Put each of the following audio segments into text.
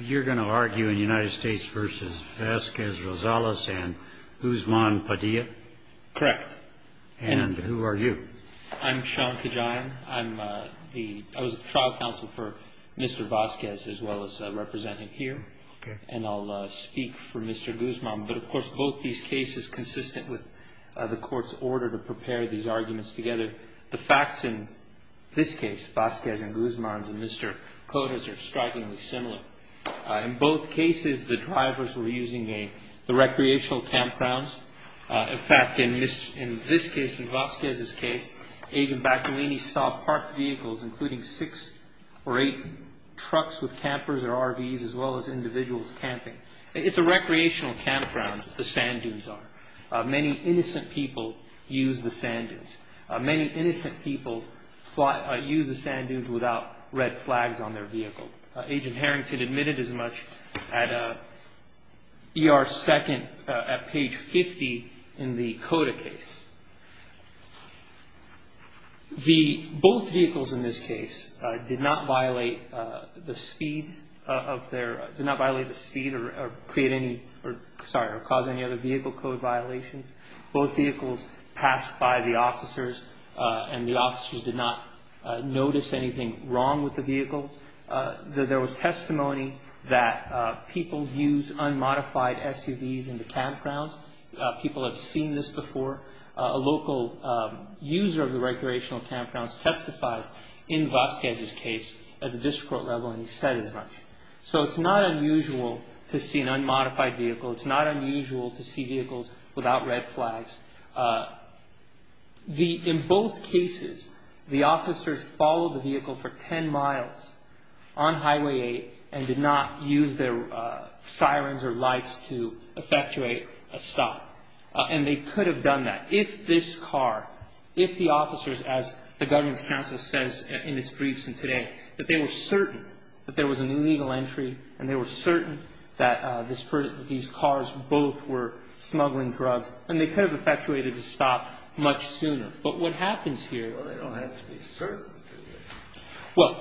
You're going to argue in United States v. Vasquez-Rosales and Guzman Padilla? Correct. And who are you? I'm Sean Kajian. I was trial counsel for Mr. Vasquez as well as representing here. And I'll speak for Mr. Guzman. But, of course, both these cases consistent with the court's order to prepare these arguments together. The facts in this case, Vasquez and Guzman's and Mr. Cota's, are strikingly similar. In both cases, the drivers were using the recreational campgrounds. In fact, in this case, in Vasquez's case, Agent Baccalini saw parked vehicles, including six or eight trucks with campers or RVs, as well as individuals camping. It's a recreational campground that the sand dunes are. Many innocent people use the sand dunes. Many innocent people use the sand dunes without red flags on their vehicle. Agent Harrington admitted as much at ER-2 at page 50 in the Cota case. Both vehicles in this case did not violate the speed or create any, sorry, or cause any other vehicle code violations. Both vehicles passed by the officers, and the officers did not notice anything wrong with the vehicles. There was testimony that people use unmodified SUVs in the campgrounds. People have seen this before. A local user of the recreational campgrounds testified in Vasquez's case at the district court level, and he said as much. So it's not unusual to see an unmodified vehicle. It's not unusual to see vehicles without red flags. In both cases, the officers followed the vehicle for 10 miles on Highway 8 and did not use their sirens or lights to effectuate a stop, and they could have done that if this car, if the officers, as the Governance Council says in its briefs today, that they were certain that there was an illegal entry and they were certain that these cars both were smuggling drugs, and they could have effectuated a stop much sooner. But what happens here? Well, they don't have to be certain. Well,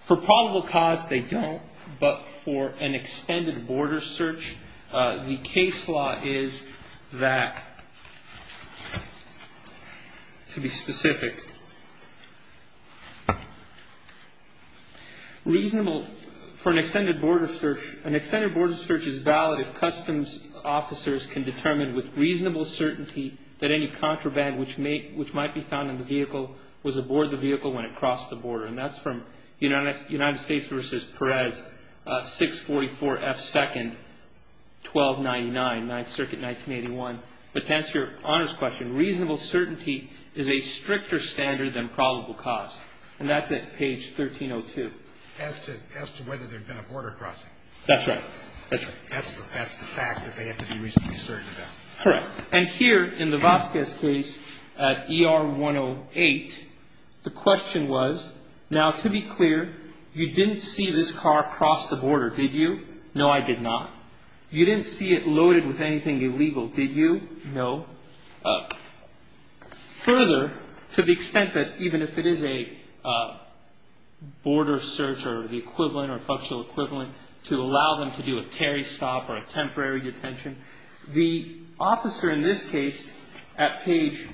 for probable cause, they don't. But for an extended border search, the case law is that, to be specific, reasonable for an extended border search, an extended border search is valid if customs officers can determine with reasonable certainty that any contraband which might be found in the vehicle was aboard the vehicle when it crossed the border. And that's from United States v. Perez, 644 F. 2nd, 1299, 9th Circuit, 1981. But to answer Your Honor's question, reasonable certainty is a stricter standard than probable cause. And that's at page 1302. As to whether there had been a border crossing. That's right. That's the fact that they have to be reasonably certain about. Correct. And here in the Vasquez case at ER 108, the question was, now, to be clear, you didn't see this car cross the border, did you? No, I did not. You didn't see it loaded with anything illegal, did you? No. Further, to the extent that even if it is a border search or the equivalent or functional equivalent, to allow them to do a carry stop or a temporary detention, the officer in this case at page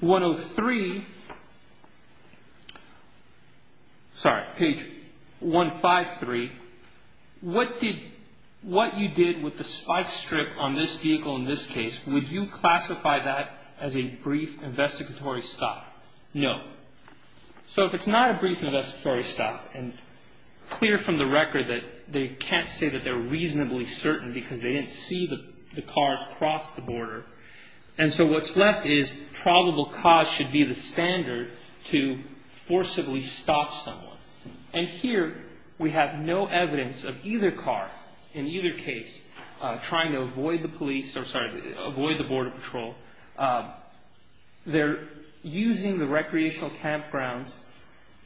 103, sorry, page 153, what you did with the spike strip on this vehicle in this case, would you classify that as a brief investigatory stop? No. So if it's not a brief investigatory stop, and clear from the record that they can't say that they're reasonably certain because they didn't see the cars cross the border. And so what's left is probable cause should be the standard to forcibly stop someone. And here we have no evidence of either car in either case trying to avoid the police, or sorry, avoid the border patrol. They're using the recreational campgrounds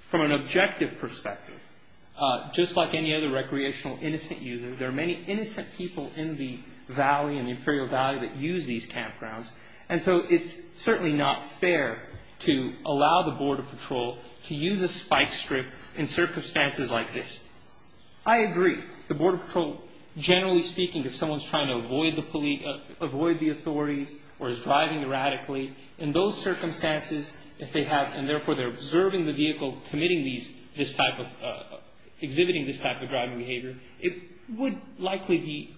from an objective perspective. Just like any other recreational innocent user, there are many innocent people in the valley, in the Imperial Valley, that use these campgrounds. And so it's certainly not fair to allow the border patrol to use a spike strip in circumstances like this. I agree. The border patrol, generally speaking, if someone's trying to avoid the authorities or is driving erratically, in those circumstances, if they have, and therefore they're observing the vehicle committing these, this type of, exhibiting this type of driving behavior, it would likely be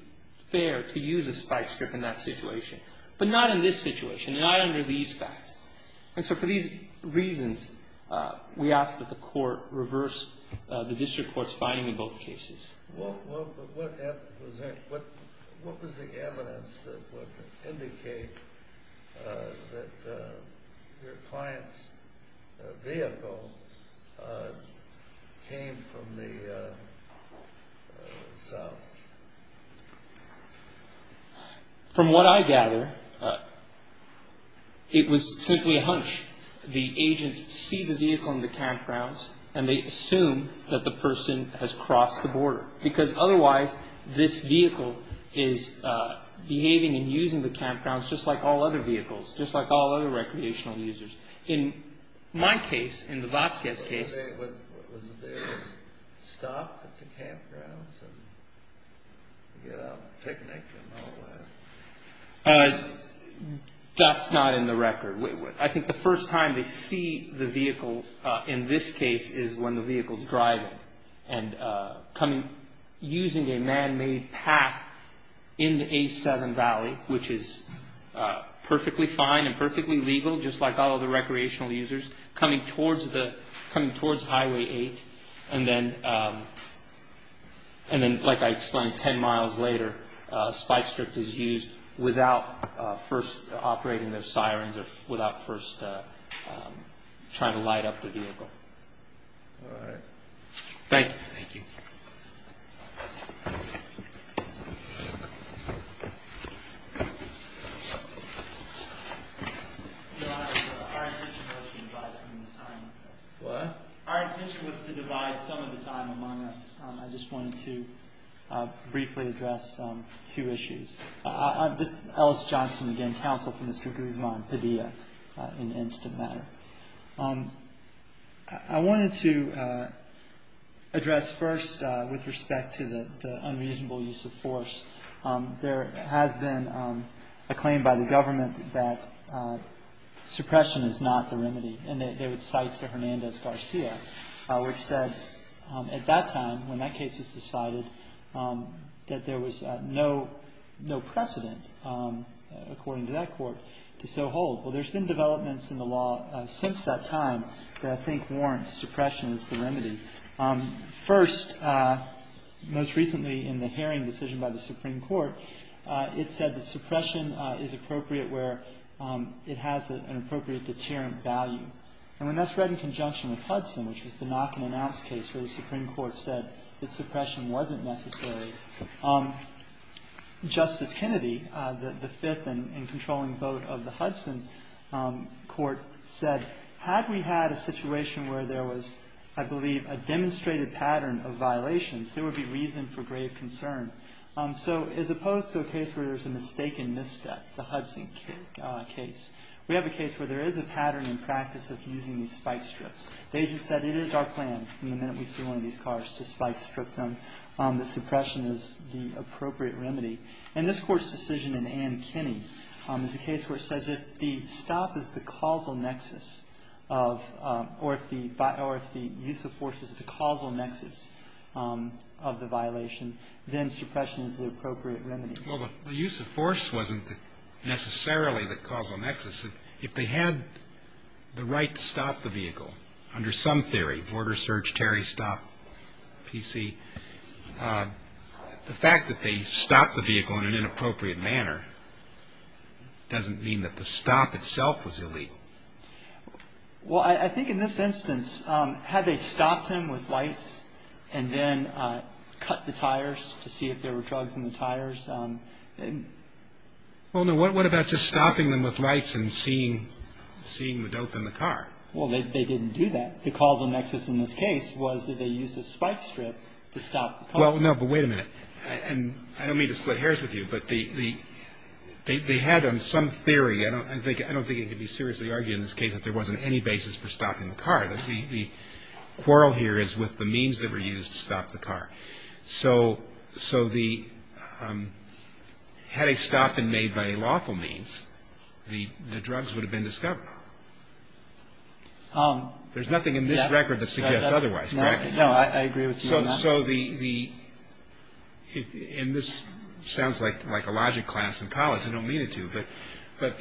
fair to use a spike strip in that situation. But not in this situation. Not under these facts. And so for these reasons, we ask that the court reverse the district court's finding in both cases. What was the evidence that would indicate that your client's vehicle came from the south? From what I gather, it was simply a hunch. The agents see the vehicle in the campgrounds, and they assume that the person has crossed the border. Because otherwise, this vehicle is behaving and using the campgrounds just like all other vehicles, just like all other recreational users. In my case, in the Vasquez case. Was there a stop at the campgrounds and a picnic and all that? That's not in the record. I think the first time they see the vehicle in this case is when the vehicle's driving and using a man-made path in the A7 Valley, which is perfectly fine and perfectly legal, just like all other recreational users, coming towards Highway 8. And then, like I explained, 10 miles later, a spike strip is used without first operating the sirens or without first trying to light up the vehicle. All right. Thank you. Thank you. Our intention was to divide some of the time. What? Our intention was to divide some of the time among us. I just wanted to briefly address two issues. I'm Ellis Johnson, again, counsel for Mr. Guzman-Padilla in an instant matter. I wanted to address first with respect to the unreasonable use of force. There has been a claim by the government that suppression is not the remedy, and they would cite to Hernandez-Garcia, which said at that time, when that case was decided, that there was no precedent, according to that court, to so hold. Well, there's been developments in the law since that time that I think warrant suppression as the remedy. First, most recently in the hearing decision by the Supreme Court, it said that suppression is appropriate where it has an appropriate deterrent value. And when that's read in conjunction with Hudson, which was the knock-and-announce case where the Supreme Court said that suppression wasn't necessary, Justice Kennedy, the fifth and controlling vote of the Hudson court, said had we had a situation where there was, I believe, a demonstrated pattern of violations, there would be reason for grave concern. So as opposed to a case where there's a mistaken misstep, the Hudson case, we have a case where there is a pattern in practice of using these spike strips. They just said it is our plan from the minute we see one of these cars to spike strip them, that suppression is the appropriate remedy. And this Court's decision in Ann Kinney is a case where it says if the stop is the causal nexus of, or if the use of force is the causal nexus of the violation, then suppression is the appropriate remedy. Well, the use of force wasn't necessarily the causal nexus. If they had the right to stop the vehicle, under some theory, border search, Terry stop, PC, the fact that they stopped the vehicle in an inappropriate manner doesn't mean that the stop itself was illegal. Well, I think in this instance, had they stopped him with lights and then cut the tires to see if there were drugs in the tires? Well, no. What about just stopping them with lights and seeing the dope in the car? Well, they didn't do that. The causal nexus in this case was that they used a spike strip to stop the car. Well, no. But wait a minute. And I don't mean to split hairs with you, but they had some theory. I don't think it could be seriously argued in this case that there wasn't any basis for stopping the car. The quarrel here is with the means that were used to stop the car. So had a stop been made by lawful means, the drugs would have been discovered. There's nothing in this record that suggests otherwise, correct? No, I agree with you on that. And this sounds like a logic class in college. I don't mean it to, but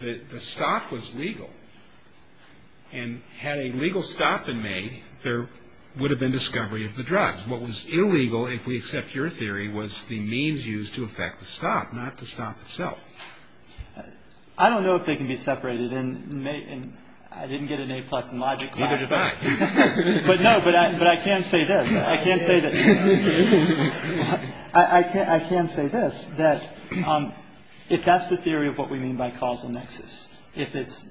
the stop was legal. And had a legal stop been made, there would have been discovery of the drugs. What was illegal, if we accept your theory, was the means used to effect the stop, not the stop itself. I don't know if they can be separated. And I didn't get an A-plus in logic class. Neither did I. But no, but I can say this. I can say this. If that's the theory of what we mean by causal nexus, if it's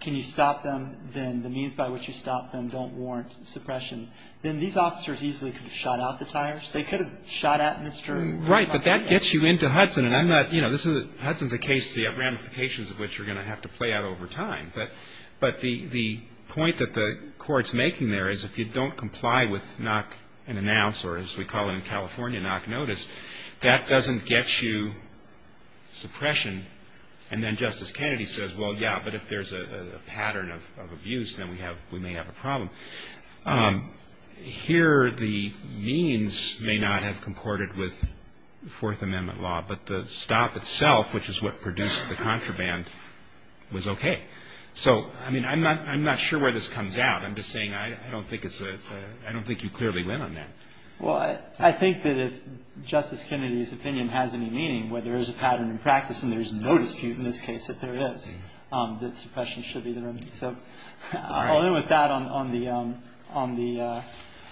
can you stop them, then the means by which you stop them don't warrant suppression, then these officers easily could have shot out the tires. They could have shot at Mr. McClellan. Right. But that gets you into Hudson. And I'm not, you know, this is, Hudson's a case, the ramifications of which are going to have to play out over time. But the point that the Court's making there is if you don't comply with knock and announce, or as we call it in California, knock notice, that doesn't get you suppression. And then Justice Kennedy says, well, yeah, but if there's a pattern of abuse, then we may have a problem. Here the means may not have comported with Fourth Amendment law, but the stop itself, which is what produced the contraband, was okay. So, I mean, I'm not sure where this comes out. I'm just saying I don't think it's a, I don't think you clearly win on that. Well, I think that if Justice Kennedy's opinion has any meaning, where there is a pattern in practice and there's no dispute in this case that there is, that suppression should be the remedy. So I'll end with that on the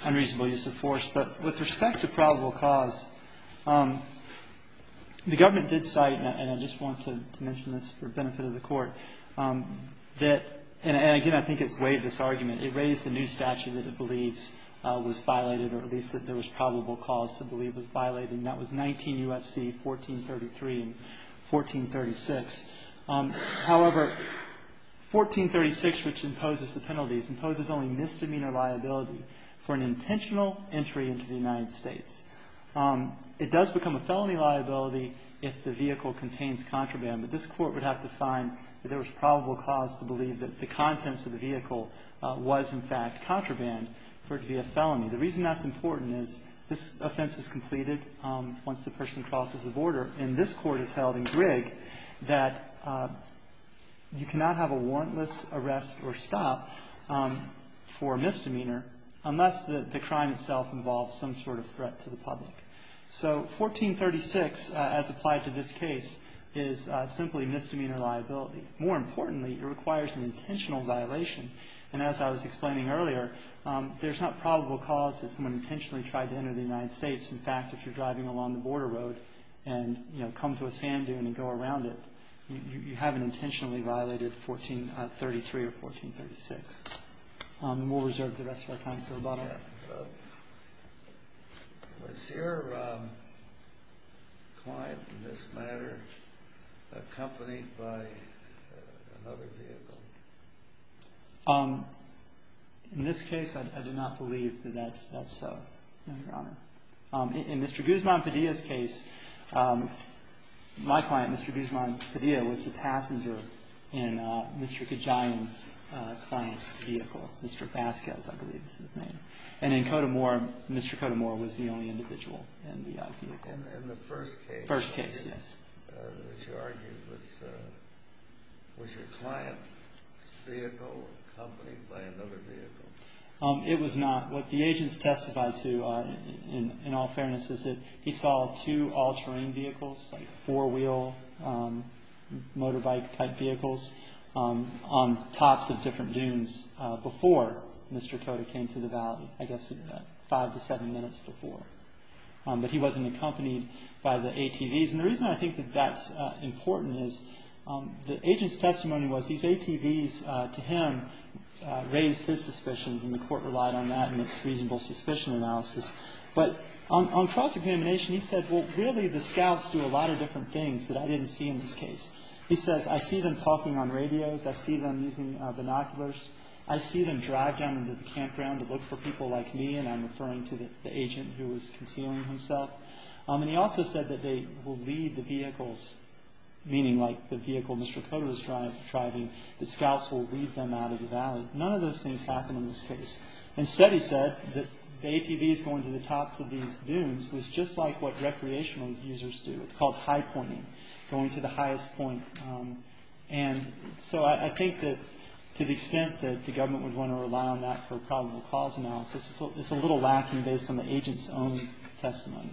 unreasonable use of force. But with respect to probable cause, the government did cite, and I just wanted to mention this for benefit of the Court, that, and again, I think it's weighed this argument. It raised the new statute that it believes was violated, or at least that there was probable cause to believe was violated, and that was 19 U.S.C. 1433 and 1436. However, 1436, which imposes the penalties, imposes only misdemeanor liability for an intentional entry into the United States. It does become a felony liability if the vehicle contains contraband, but this Court would have to find that there was probable cause to believe that the contents of the vehicle was, in fact, contraband for it to be a felony. The reason that's important is this offense is completed once the person crosses the border, and this Court has held in Grigg that you cannot have a warrantless arrest or stop for misdemeanor unless the crime itself involves some sort of threat to the public. So 1436, as applied to this case, is simply misdemeanor liability. More importantly, it requires an intentional violation, and as I was explaining earlier, there's not probable cause that someone intentionally tried to enter the United States. In fact, if you're driving along the border road and, you know, come to a sand dune and go around it, you haven't intentionally violated 1433 or 1436. And we'll reserve the rest of our time for rebuttal. Was your client in this matter accompanied by another vehicle? In this case, I do not believe that that's so, Your Honor. In Mr. Guzman-Padilla's case, my client, Mr. Guzman-Padilla, was the passenger in Mr. Kajian's client's vehicle, Mr. Vasquez, I believe is his name. And in Cotamore, Mr. Cotamore was the only individual in the vehicle. In the first case? First case, yes. Which you argued was your client's vehicle accompanied by another vehicle? It was not. What the agents testified to, in all fairness, is that he saw two all-terrain vehicles, like four-wheel motorbike-type vehicles, on tops of different dunes before Mr. Cota came to the valley, I guess five to seven minutes before. But he wasn't accompanied by the ATVs. And the reason I think that that's important is the agent's testimony was these ATVs, to him, raised his suspicions, and the Court relied on that in its reasonable suspicion analysis. But on cross-examination, he said, well, really the scouts do a lot of different things that I didn't see in this case. He says, I see them talking on radios, I see them using binoculars, I see them drive down into the campground to look for people like me, and I'm referring to the agent who was concealing himself. And he also said that they will lead the vehicles, meaning like the vehicle Mr. Cota was driving, that scouts will lead them out of the valley. None of those things happened in this case. Instead, he said that the ATVs going to the tops of these dunes was just like what recreational users do. It's called high-pointing, going to the highest point. And so I think that to the extent that the government would want to rely on that for probable cause analysis, it's a little lacking based on the agent's own testimony.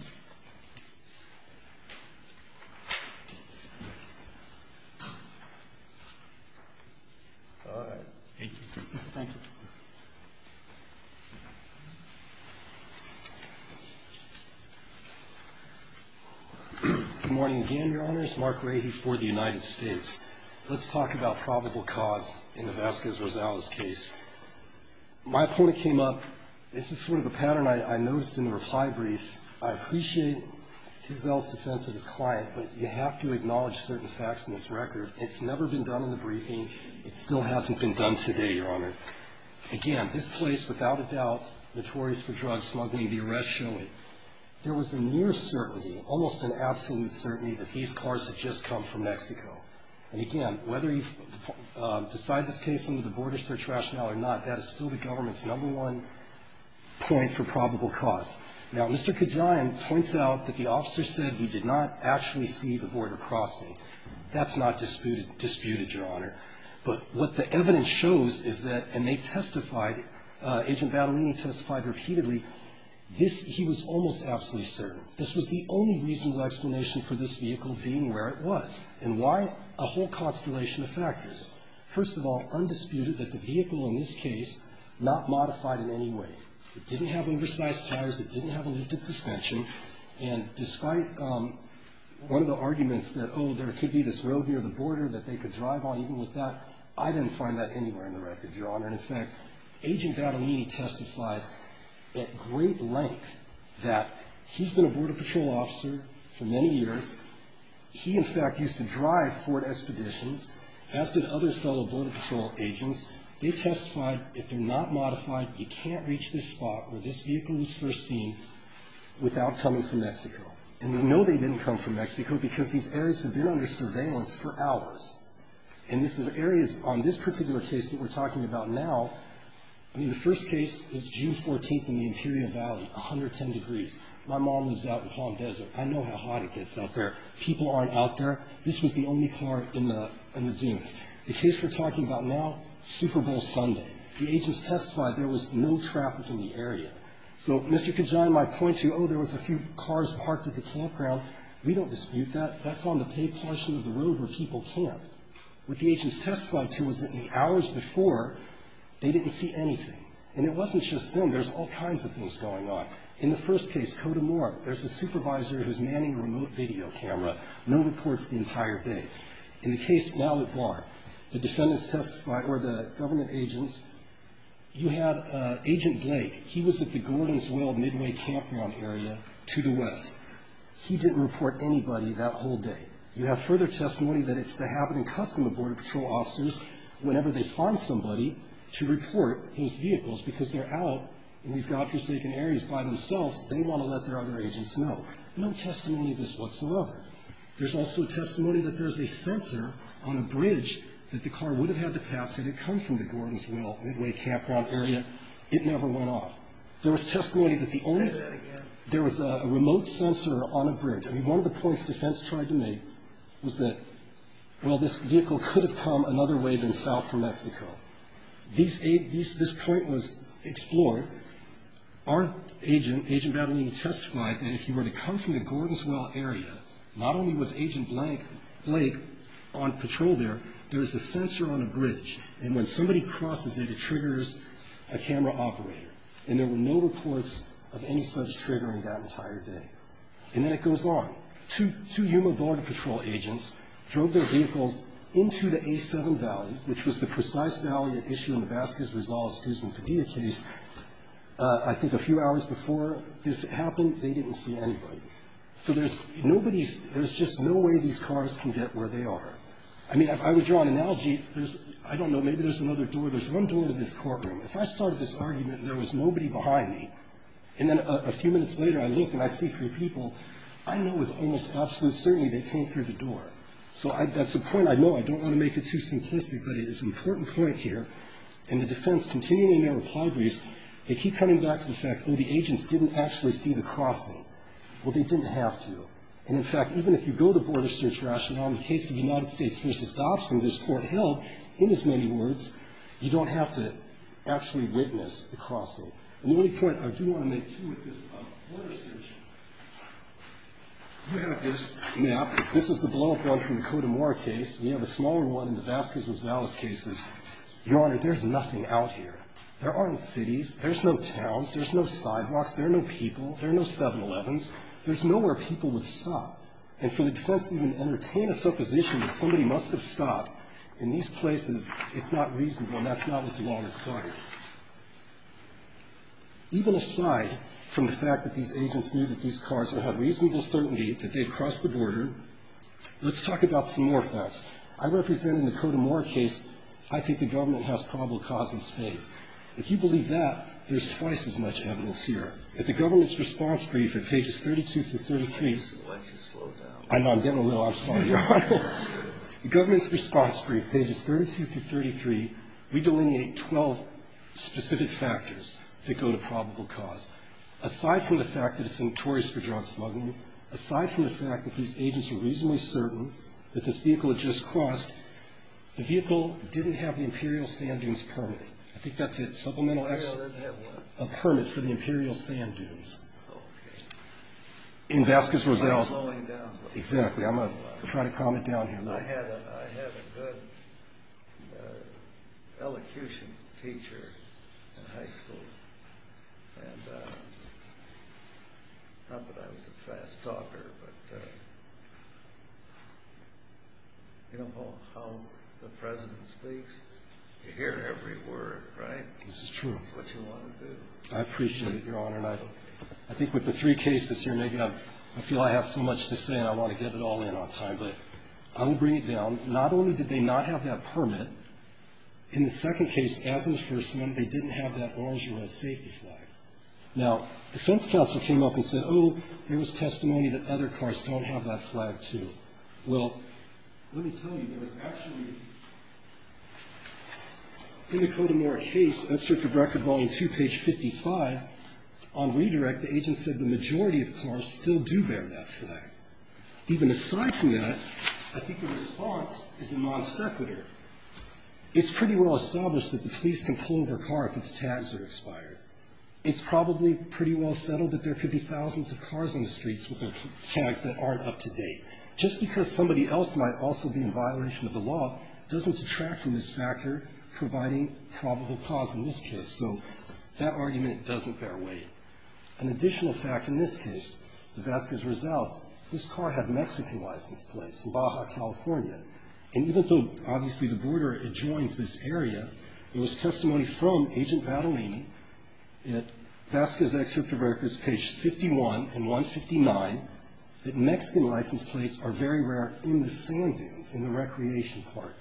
All right. Thank you. Thank you. Good morning again, Your Honors. Mark Rahe for the United States. Let's talk about probable cause in the Vasquez-Rosales case. My opponent came up. This is sort of a pattern I noticed in the reply briefs. I appreciate Giselle's defense of his client, but you have to acknowledge certain facts in this record. It's never been done in the briefing. It still hasn't been done today, Your Honor. Again, this place, without a doubt, notorious for drug smuggling, the arrests show it. There was a near certainty, almost an absolute certainty, that these cars had just come from Mexico. And again, whether you decide this case under the border search rationale or not, that is still the government's number one point for probable cause. Now, Mr. Kajian points out that the officer said he did not actually see the border crossing. That's not disputed, Your Honor. But what the evidence shows is that, and they testified, Agent Battaglini testified repeatedly, this, he was almost absolutely certain. This was the only reasonable explanation for this vehicle being where it was. And why? A whole constellation of factors. First of all, undisputed that the vehicle in this case not modified in any way. It didn't have oversized tires. It didn't have a lifted suspension. And despite one of the arguments that, oh, there could be this road near the border that they could drive on, even with that, I didn't find that anywhere in the record, Your Honor. And, in fact, Agent Battaglini testified at great length that he's been a Border Patrol officer for many years. He, in fact, used to drive Ford Expeditions, as did other fellow Border Patrol agents. They testified if they're not modified, you can't reach this spot where this vehicle was first seen without coming from Mexico. And we know they didn't come from Mexico because these areas have been under surveillance for hours. And these are areas on this particular case that we're talking about now. I mean, the first case is June 14th in the Imperial Valley, 110 degrees. My mom lives out in Palm Desert. I know how hot it gets out there. People aren't out there. This was the only car in the dunes. The case we're talking about now, Super Bowl Sunday. The agents testified there was no traffic in the area. So, Mr. Kajan, my point to you, oh, there was a few cars parked at the campground. We don't dispute that. That's on the paved portion of the road where people camp. What the agents testified to was that in the hours before, they didn't see anything. And it wasn't just them. There's all kinds of things going on. In the first case, Cote d'Amour, there's a supervisor who's manning a remote video camera. No reports the entire day. In the case now at Bard, the defendants testified, or the government agents, you had Agent Blake. He was at the Gordon's Well Midway Campground area to the west. He didn't report anybody that whole day. You have further testimony that it's the habit and custom of Border Patrol officers, whenever they find somebody, to report his vehicles because they're out in these godforsaken areas by themselves, they want to let their other agents know. No testimony of this whatsoever. There's also testimony that there's a sensor on a bridge that the car would have had to pass had it come from the Gordon's Well Midway Campground area. It never went off. There was testimony that the only one. There was a remote sensor on a bridge. I mean, one of the points defense tried to make was that, well, this vehicle could have come another way than south from Mexico. This point was explored. Our agent, Agent Babelini, testified that if you were to come from the Gordon's Well area, not only was Agent Blake on patrol there, there was a sensor on a bridge, and when somebody crosses it, it triggers a camera operator. And there were no reports of any such trigger in that entire day. And then it goes on. Two Yuma Border Patrol agents drove their vehicles into the A7 Valley, which was the precise valley at issue in the Vasquez-Rizal-Escuzman-Padilla case. I think a few hours before this happened, they didn't see anybody. So there's nobody's, there's just no way these cars can get where they are. I mean, if I were to draw an analogy, there's, I don't know, maybe there's another door. There's one door to this courtroom. If I started this argument and there was nobody behind me, and then a few minutes later, I look and I see three people, I know with almost absolute certainty they came through the door. So that's a point I know. I don't want to make it too simplistic, but it is an important point here. And the defense continuing in their reply briefs, they keep coming back to the fact, oh, the agents didn't actually see the crossing. Well, they didn't have to. And, in fact, even if you go to border search rationale, in the case of United States v. Dobson, this court held, in as many words, you don't have to actually witness the crossing. And the only point I do want to make, too, with this border search, you have this map. This is the blowup run from the Cote d'Amour case. We have a smaller one in the Vasquez-Rosales cases. Your Honor, there's nothing out here. There aren't cities. There's no towns. There's no sidewalks. There are no people. There are no 7-Elevens. There's nowhere people would stop. And for the defense to even entertain a supposition that somebody must have stopped in these places, it's not reasonable, and that's not what the law requires. Let's talk about some more facts. I represent, in the Cote d'Amour case, I think the government has probable cause in spades. If you believe that, there's twice as much evidence here. At the government's response brief at pages 32 through 33 we delineate 12 specific factors that go to probable cause. Aside from the fact that it's notorious for drug smuggling, aside from the fact that these agents were reasonably certain that this vehicle had just crossed, the vehicle didn't have the Imperial Sand Dunes permit. I think that's it. Supplemental action. The lawyer didn't have what? A permit for the Imperial Sand Dunes. Okay. In Vasquez-Rosales. I'm slowing down. Exactly. I'm going to try to calm it down here. I had a good elocution teacher in high school. And not that I was a fast talker, but you know, Paul, how the President speaks, you hear every word, right? This is true. That's what you want to do. I appreciate it, Your Honor. And I think with the three cases here, maybe I feel I have so much to say and I want to get it all in on time, but I will bring it down. Not only did they not have that permit, in the second case, as in the first one, they didn't have that orange or red safety flag. Now, defense counsel came up and said, oh, there was testimony that other cars don't have that flag, too. Well, let me tell you, there was actually, in the Kodamora case, that's for record volume 2, page 55, on redirect, the agent said the majority of cars still do bear that flag. Even aside from that, I think the response is a non sequitur. It's pretty well established that the police can pull over a car if its tags are expired. It's probably pretty well settled that there could be thousands of cars on the streets with their tags that aren't up to date. Just because somebody else might also be in violation of the law doesn't detract from this factor, providing probable cause in this case. So that argument doesn't bear weight. An additional fact in this case, the Vasquez-Rizal's, this car had Mexican license plates, Baja, California. And even though, obviously, the border adjoins this area, there was testimony from Agent Badalini at Vasquez Excerpt of Records, pages 51 and 159, that Mexican license plates are very rare in the sand dunes, in the recreation part.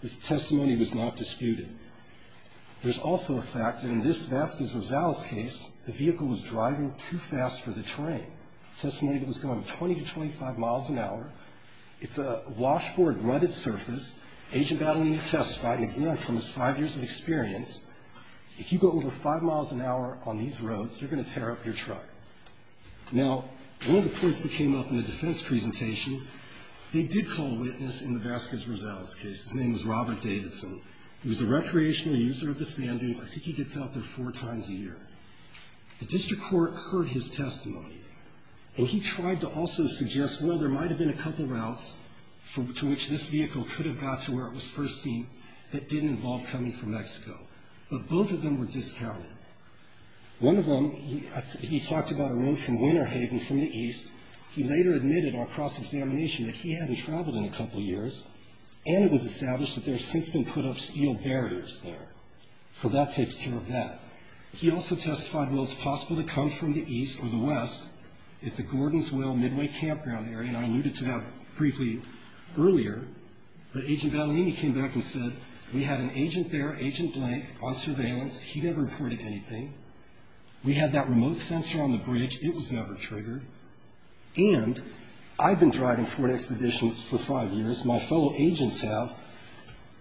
This testimony was not disputed. There's also a fact that in this Vasquez-Rizal's case, the vehicle was driving too fast for the terrain. Testimony that was going 20 to 25 miles an hour. It's a washboard, rutted surface. Agent Badalini testified, again, from his five years of experience, if you go over five miles an hour on these roads, you're going to tear up your truck. Now, one of the points that came up in the defense presentation, they did call a witness in the Vasquez-Rizal's case. His name was Robert Davidson. He was a recreational user of the sand dunes. I think he gets out there four times a year. The district court heard his testimony. And he tried to also suggest, well, there might have been a couple routes to which this vehicle could have got to where it was first seen that didn't involve coming from Mexico. But both of them were discounted. One of them, he talked about a road from Winter Haven from the east. He later admitted on cross-examination that he hadn't traveled in a couple years, and it was established that there had since been put up steel barriers there. So that takes care of that. He also testified, well, it's possible to come from the east or the west at the Gordon's Will Midway Campground area, and I alluded to that briefly earlier. But Agent Baleeni came back and said, we had an agent there, Agent Blank, on surveillance. He never reported anything. We had that remote sensor on the bridge. It was never triggered. And I've been driving Ford Expeditions for five years. My fellow agents have.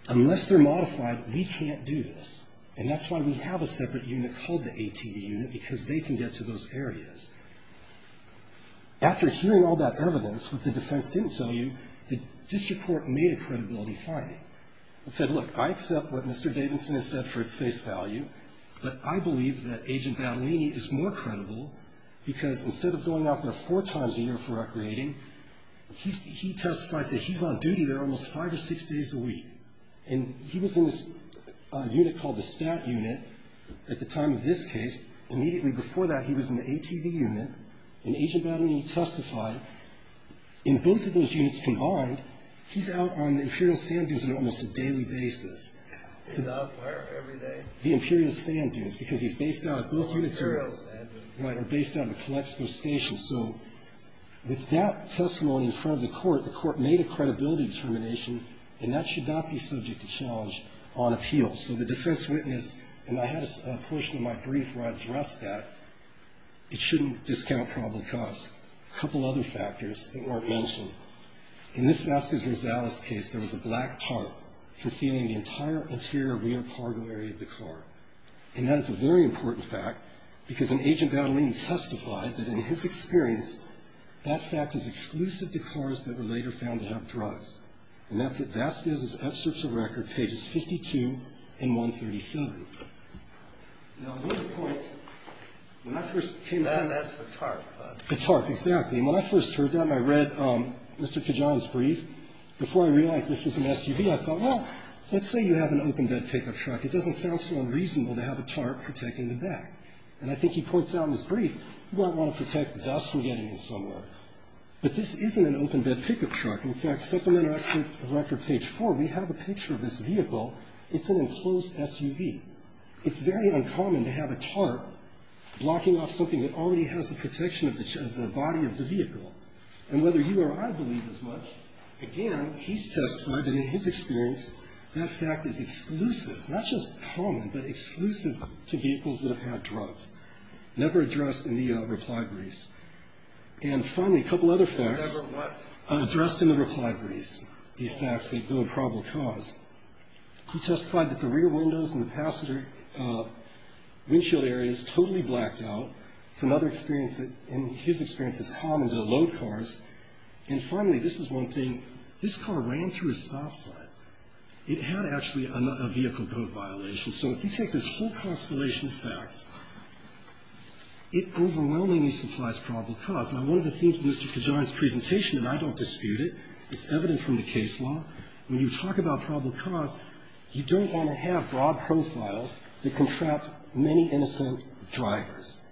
Unless they're modified, we can't do this. And that's why we have a separate unit called the ATU because they can get to those areas. After hearing all that evidence, what the defense didn't tell you, the district court made a credibility finding. It said, look, I accept what Mr. Davidson has said for its face value, but I believe that Agent Baleeni is more credible because instead of going out there four times a year for recreating, he testifies that he's on duty there almost five or six days a week. And he was in this unit called the STAT unit at the time of this case. Immediately before that, he was in the ATV unit. And Agent Baleeni testified. In both of those units combined, he's out on the Imperial Sand Dunes on almost a daily basis. The Imperial Sand Dunes because he's based out of both units. Right, or based out of Colexco Station. So with that testimony in front of the court, the court made a credibility determination, and that should not be subject to challenge on appeal. So the defense witnessed, and I had a portion of my brief where I addressed that, it shouldn't discount probable cause. A couple other factors that weren't mentioned. In this Vasquez-Gonzalez case, there was a black tarp concealing the entire interior rear cargo area of the car. And that is a very important fact because Agent Baleeni testified that in his experience, that fact is exclusive to cars that were later found to have drugs. And that's at Vasquez's search of record, pages 52 and 137. Now, one of the points, when I first came out of that. That's the tarp. The tarp, exactly. And when I first heard that and I read Mr. Kajan's brief, before I realized this was an SUV, I thought, well, let's say you have an open bed pickup truck. It doesn't sound so unreasonable to have a tarp protecting the back. And I think he points out in his brief, you might want to protect thus from getting it somewhere. But this isn't an open bed pickup truck. In fact, supplemental to record page 4, we have a picture of this vehicle. It's an enclosed SUV. It's very uncommon to have a tarp blocking off something that already has the protection of the body of the vehicle. And whether you or I believe as much, again, he's testified that in his experience, that fact is exclusive, not just common, but exclusive to vehicles that have had drugs. Never addressed in the reply briefs. And finally, a couple other facts. Addressed in the reply briefs. These facts that go to probable cause. He testified that the rear windows and the passenger windshield area is totally blacked out. It's another experience that in his experience is common to load cars. And finally, this is one thing. This car ran through a stop sign. It had actually a vehicle code violation. So if you take this whole constellation of facts, it overwhelmingly supplies probable cause. Now, one of the themes of Mr. Kajan's presentation, and I don't dispute it, it's evident from the case law, when you talk about probable cause, you don't want to have broad profiles that can trap many innocent drivers.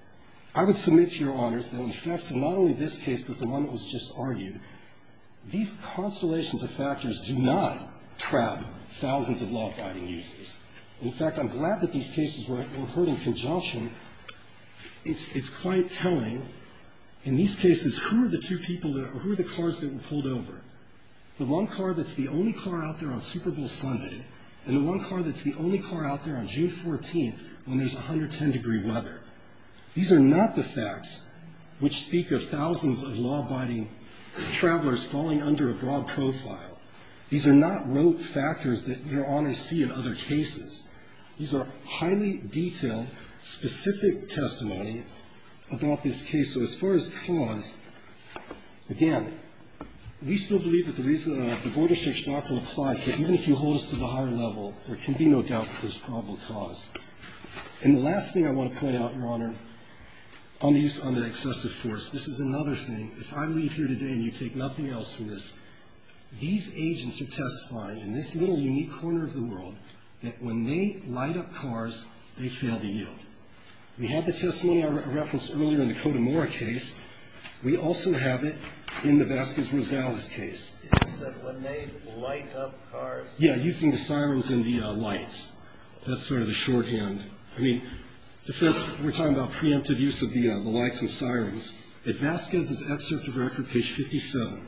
I would submit to Your Honors that in the facts of not only this case but the one that was just argued, these constellations of factors do not trap thousands of law-guiding users. In fact, I'm glad that these cases were heard in conjunction. It's quite telling. In these cases, who are the two people that are or who are the cars that were pulled over? The one car that's the only car out there on Super Bowl Sunday and the one car that's the only car out there on June 14th when there's 110-degree weather. These are not the facts which speak of thousands of law-abiding travelers falling under a broad profile. These are not rote factors that Your Honors see in other cases. These are highly detailed, specific testimony about this case. So as far as cause, again, we still believe that the reason that the border search law applies, that even if you hold us to the higher level, there can be no doubt that there's probable cause. And the last thing I want to point out, Your Honor, on the use of excessive force. This is another thing. If I leave here today and you take nothing else from this, these agents are testifying in this little unique corner of the world that when they light up cars, they fail to yield. We have the testimony I referenced earlier in the Cotamora case. We also have it in the Vasquez-Rosales case. Breyer. Is that when they light up cars? Carvin. Yeah, using the sirens and the lights. That's sort of the shorthand. I mean, the first we're talking about preemptive use of the lights and sirens. At Vasquez's excerpt of record, page 57,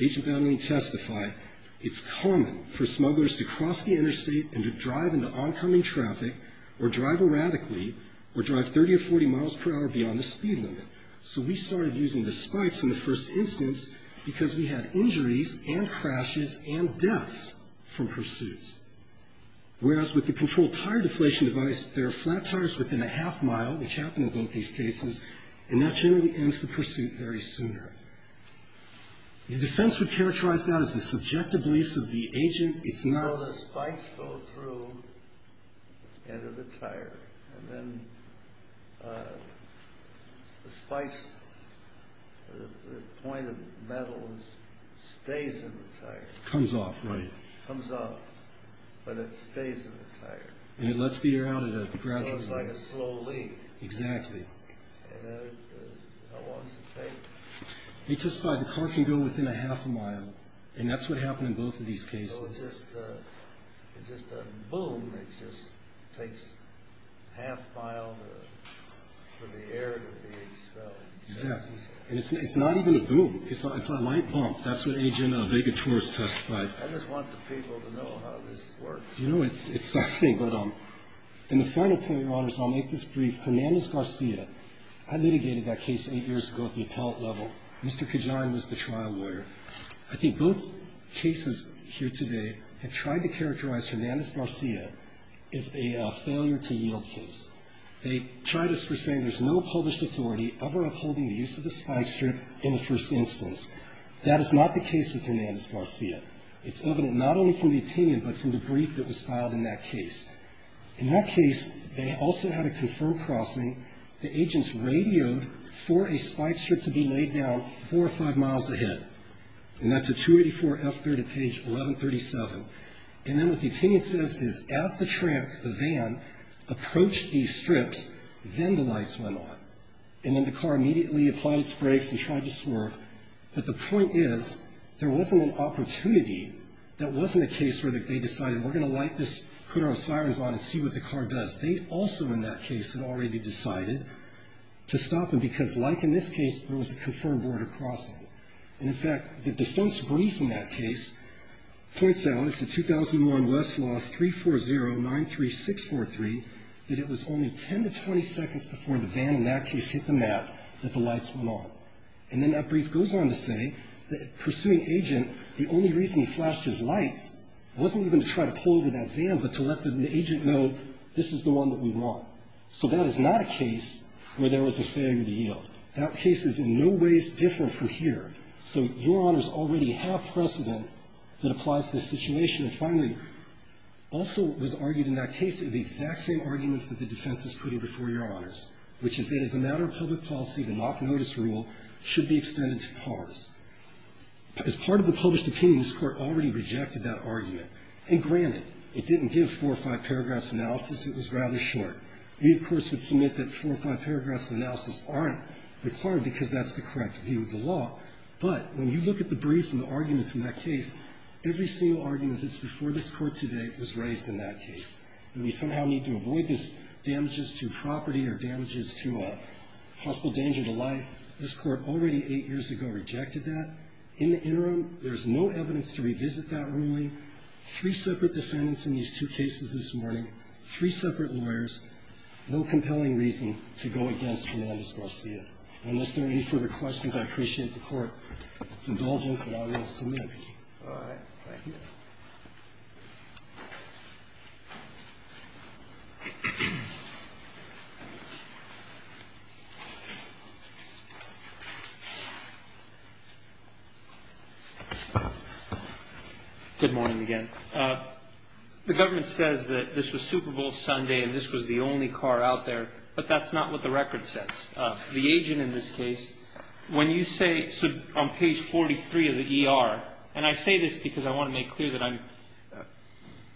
agent Boundary testified, it's common for smugglers to cross the interstate and to drive into oncoming traffic or drive erratically or drive 30 or 40 miles per hour beyond the speed limit. So we started using the spikes in the first instance because we had injuries and crashes and deaths from pursuits. Whereas with the controlled tire deflation device, there are flat tires within a tire. The defense would characterize that as the subjective beliefs of the agent. It's not. Well, the spikes go through into the tire. And then the spikes, the point of metal stays in the tire. Comes off, right. Comes off. But it stays in the tire. And it lets the air out at a gradual rate. So it's like a slow leak. Exactly. And how long does it take? He testified, the car can go within a half a mile. And that's what happened in both of these cases. So it's just a boom that just takes a half mile for the air to be expelled. Exactly. And it's not even a boom. It's a light bump. That's what Agent Vega Torres testified. I just want the people to know how this works. You know, it's something. And the final point, Your Honors, I'll make this brief. Hernandez-Garcia, I litigated that case eight years ago at the appellate level. Mr. Kajan was the trial lawyer. I think both cases here today have tried to characterize Hernandez-Garcia as a failure-to-yield case. They tried us for saying there's no published authority ever upholding the use of a spike strip in the first instance. That is not the case with Hernandez-Garcia. It's evident not only from the opinion but from the brief that was filed in that case. In that case, they also had a confirmed crossing. The agents radioed for a spike strip to be laid down four or five miles ahead. And that's a 284 F-30, page 1137. And then what the opinion says is as the tram, the van, approached these strips, then the lights went on. And then the car immediately applied its brakes and tried to swerve. But the point is, there wasn't an opportunity, that wasn't a case where they decided we're going to light this, put our sirens on and see what the car does. They also in that case had already decided to stop them because like in this case, there was a confirmed border crossing. And in fact, the defense brief in that case points out, it's a 2001 Westlaw 340-93643, that it was only 10 to 20 seconds before the van in that case hit the mat that the lights went on. And then that brief goes on to say that pursuing agent, the only reason he flashed his lights wasn't even to try to pull over that van, but to let the agent know this is the one that we want. So that is not a case where there was a failure to yield. That case is in no ways different from here. So Your Honors already have precedent that applies to this situation. And finally, also what was argued in that case are the exact same arguments that the defense is putting before Your Honors, which is that as a matter of public policy, the mock notice rule should be extended to cars. As part of the published opinion, this Court already rejected that argument. And granted, it didn't give four or five paragraphs of analysis. It was rather short. We, of course, would submit that four or five paragraphs of analysis aren't required because that's the correct view of the law. But when you look at the briefs and the arguments in that case, every single argument that's before this Court today was raised in that case. We somehow need to avoid this damages to property or damages to possible danger to life. This Court already eight years ago rejected that. In the interim, there's no evidence to revisit that ruling. Three separate defendants in these two cases this morning, three separate lawyers, no compelling reason to go against Hernandez-Garcia. Unless there are any further questions, I appreciate the Court's indulgence and I will submit. Thank you. Good morning again. The government says that this was Super Bowl Sunday and this was the only car out there, but that's not what the record says. The agent in this case, when you say on page 43 of the ER, and I say this because I want to make clear that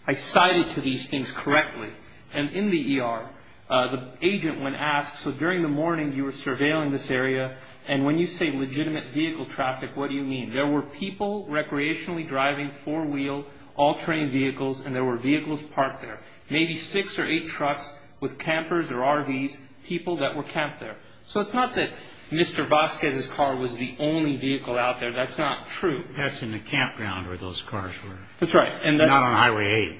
I cited to these things correctly. And in the ER, the agent when asked, so during the morning you were surveilling this area and when you say legitimate vehicle traffic, what do you mean? There were people recreationally driving four-wheel all-terrain vehicles and there were vehicles parked there. Maybe six or eight trucks with campers or RVs, people that were camped there. So it's not that Mr. Vasquez's car was the only vehicle out there. That's not true. That's in the campground where those cars were. That's right. And not on Highway 8.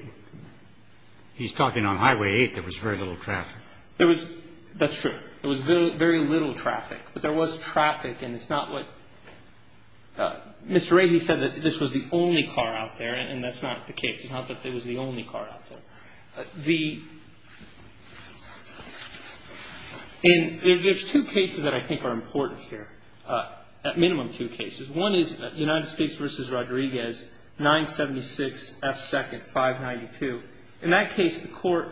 He's talking on Highway 8. There was very little traffic. There was. That's true. There was very little traffic. But there was traffic and it's not what. Mr. Rady said that this was the only car out there and that's not the case. It's not that it was the only car out there. There's two cases that I think are important here, at minimum two cases. One is United States v. Rodriguez, 976 F. 2nd, 592. In that case, the court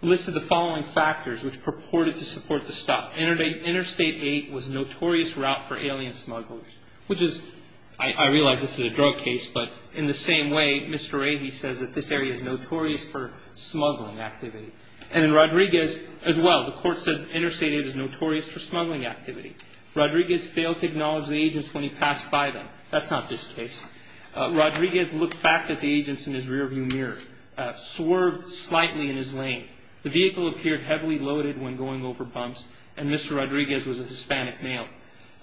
listed the following factors which purported to support the stop. Interstate 8 was a notorious route for alien smugglers, which is, I realize this is a drug case, but in the same way, Mr. Rady says that this area is notorious for smuggling activity. And in Rodriguez as well, the court said Interstate 8 is notorious for smuggling activity. Rodriguez failed to acknowledge the agents when he passed by them. That's not this case. Rodriguez looked back at the agents in his rearview mirror, swerved slightly in his lane. The vehicle appeared heavily loaded when going over bumps and Mr. Rodriguez was a Hispanic male.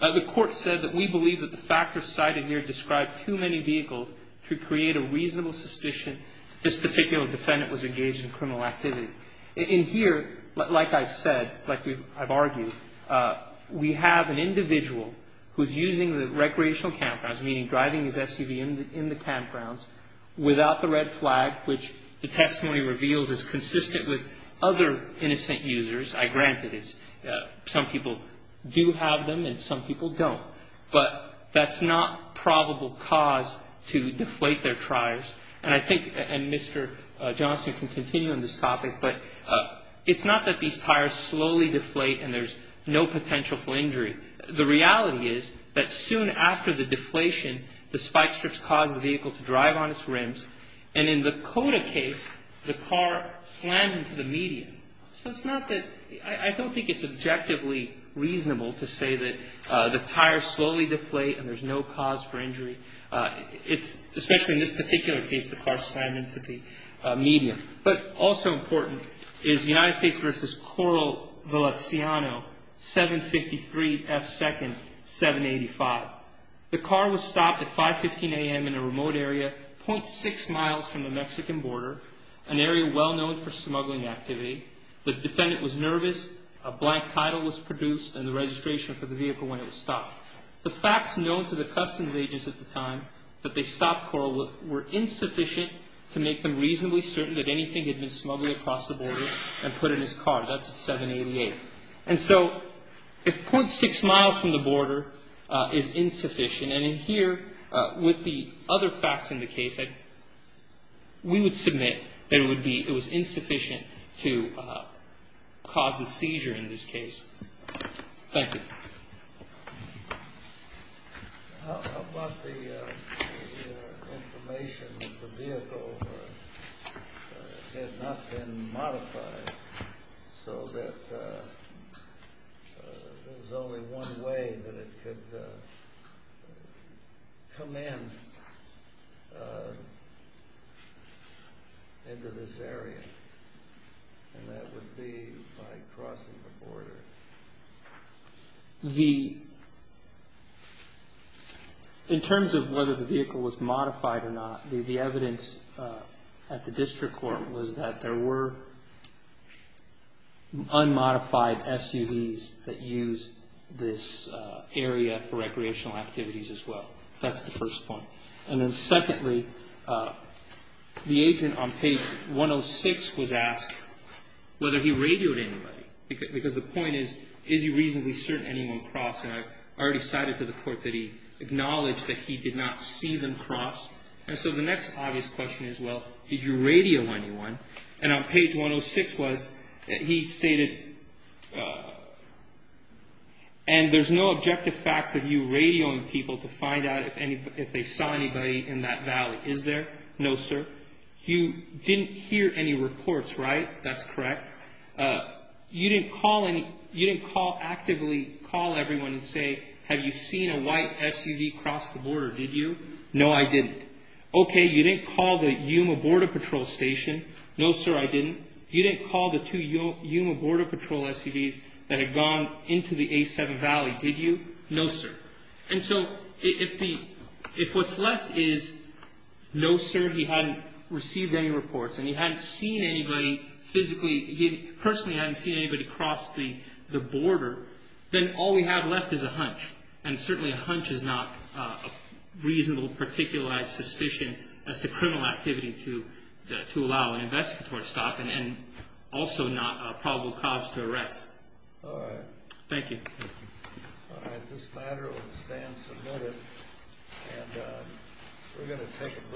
The court said that we believe that the factors cited here describe too many vehicles to create a reasonable suspicion this particular defendant was engaged in criminal activity. In here, like I said, like I've argued, we have an individual who's using the recreational campgrounds, meaning driving his SUV in the campgrounds, without the red flag, which the testimony reveals is consistent with other innocent users. I grant it. Some people do have them and some people don't. But that's not probable cause to deflate their tires. And I think, and Mr. Johnson can continue on this topic, but it's not that these tires slowly deflate and there's no potential for injury. The reality is that soon after the deflation, the spike strips caused the vehicle to drive on its rims. And in the Cota case, the car slammed into the median. So it's not that, I don't think it's objectively reasonable to say that the tires slowly deflate and there's no cause for injury. It's, especially in this particular case, the car slammed into the median. But also important is United States v. Coral Valenciano, 753 F. 2nd, 785. The car was stopped at 5.15 a.m. in a remote area, .6 miles from the Mexican border, an area well known for illegal smuggling. The defendant was nervous, a blank title was produced, and the registration for the vehicle when it was stopped. The facts known to the customs agents at the time that they stopped Coral were insufficient to make them reasonably certain that anything had been smuggled across the border and put in his car. That's at 788. And so if .6 miles from the border is insufficient, and in here, with the other facts in the case, we would submit that it was insufficient to cause a seizure in this case. Thank you. How about the information that the vehicle had not been modified so that there was only one way that it could come in into this area, and that would be by crossing the border? In terms of whether the vehicle was modified or not, the evidence at the district court was that there were unmodified SUVs that used this area for recreational activities as well. That's the first point. And then secondly, the agent on page 106 was asked whether he radioed anybody, because the point is, is he reasonably certain anyone crossed? And I already cited to the court that he acknowledged that he did not see them cross. And so the next obvious question is, well, did you radio anyone? And on page 106 was that he stated, and there's no objective facts that you radio people to find out if they saw anybody in that valley, is there? No, sir. You didn't hear any reports, right? That's correct. You didn't actively call everyone and say, have you seen a white SUV cross the border, did you? No, I didn't. Okay, you didn't call the Yuma Border Patrol Station. No, sir, I didn't. You didn't call the two Yuma Border Patrol SUVs that had gone into the A7 Valley, did you? No, sir. And so if what's left is no, sir, he hadn't received any reports, and he hadn't seen anybody physically, he personally hadn't seen anybody cross the border, then all we have left is a hunch. And certainly a hunch is not a reasonable, particularized suspicion as to criminal activity to allow an investigator to stop and also not a probable cause to arrest. All right. Thank you. All right, this matter will stand submitted, and we're going to take a brief recess at this time.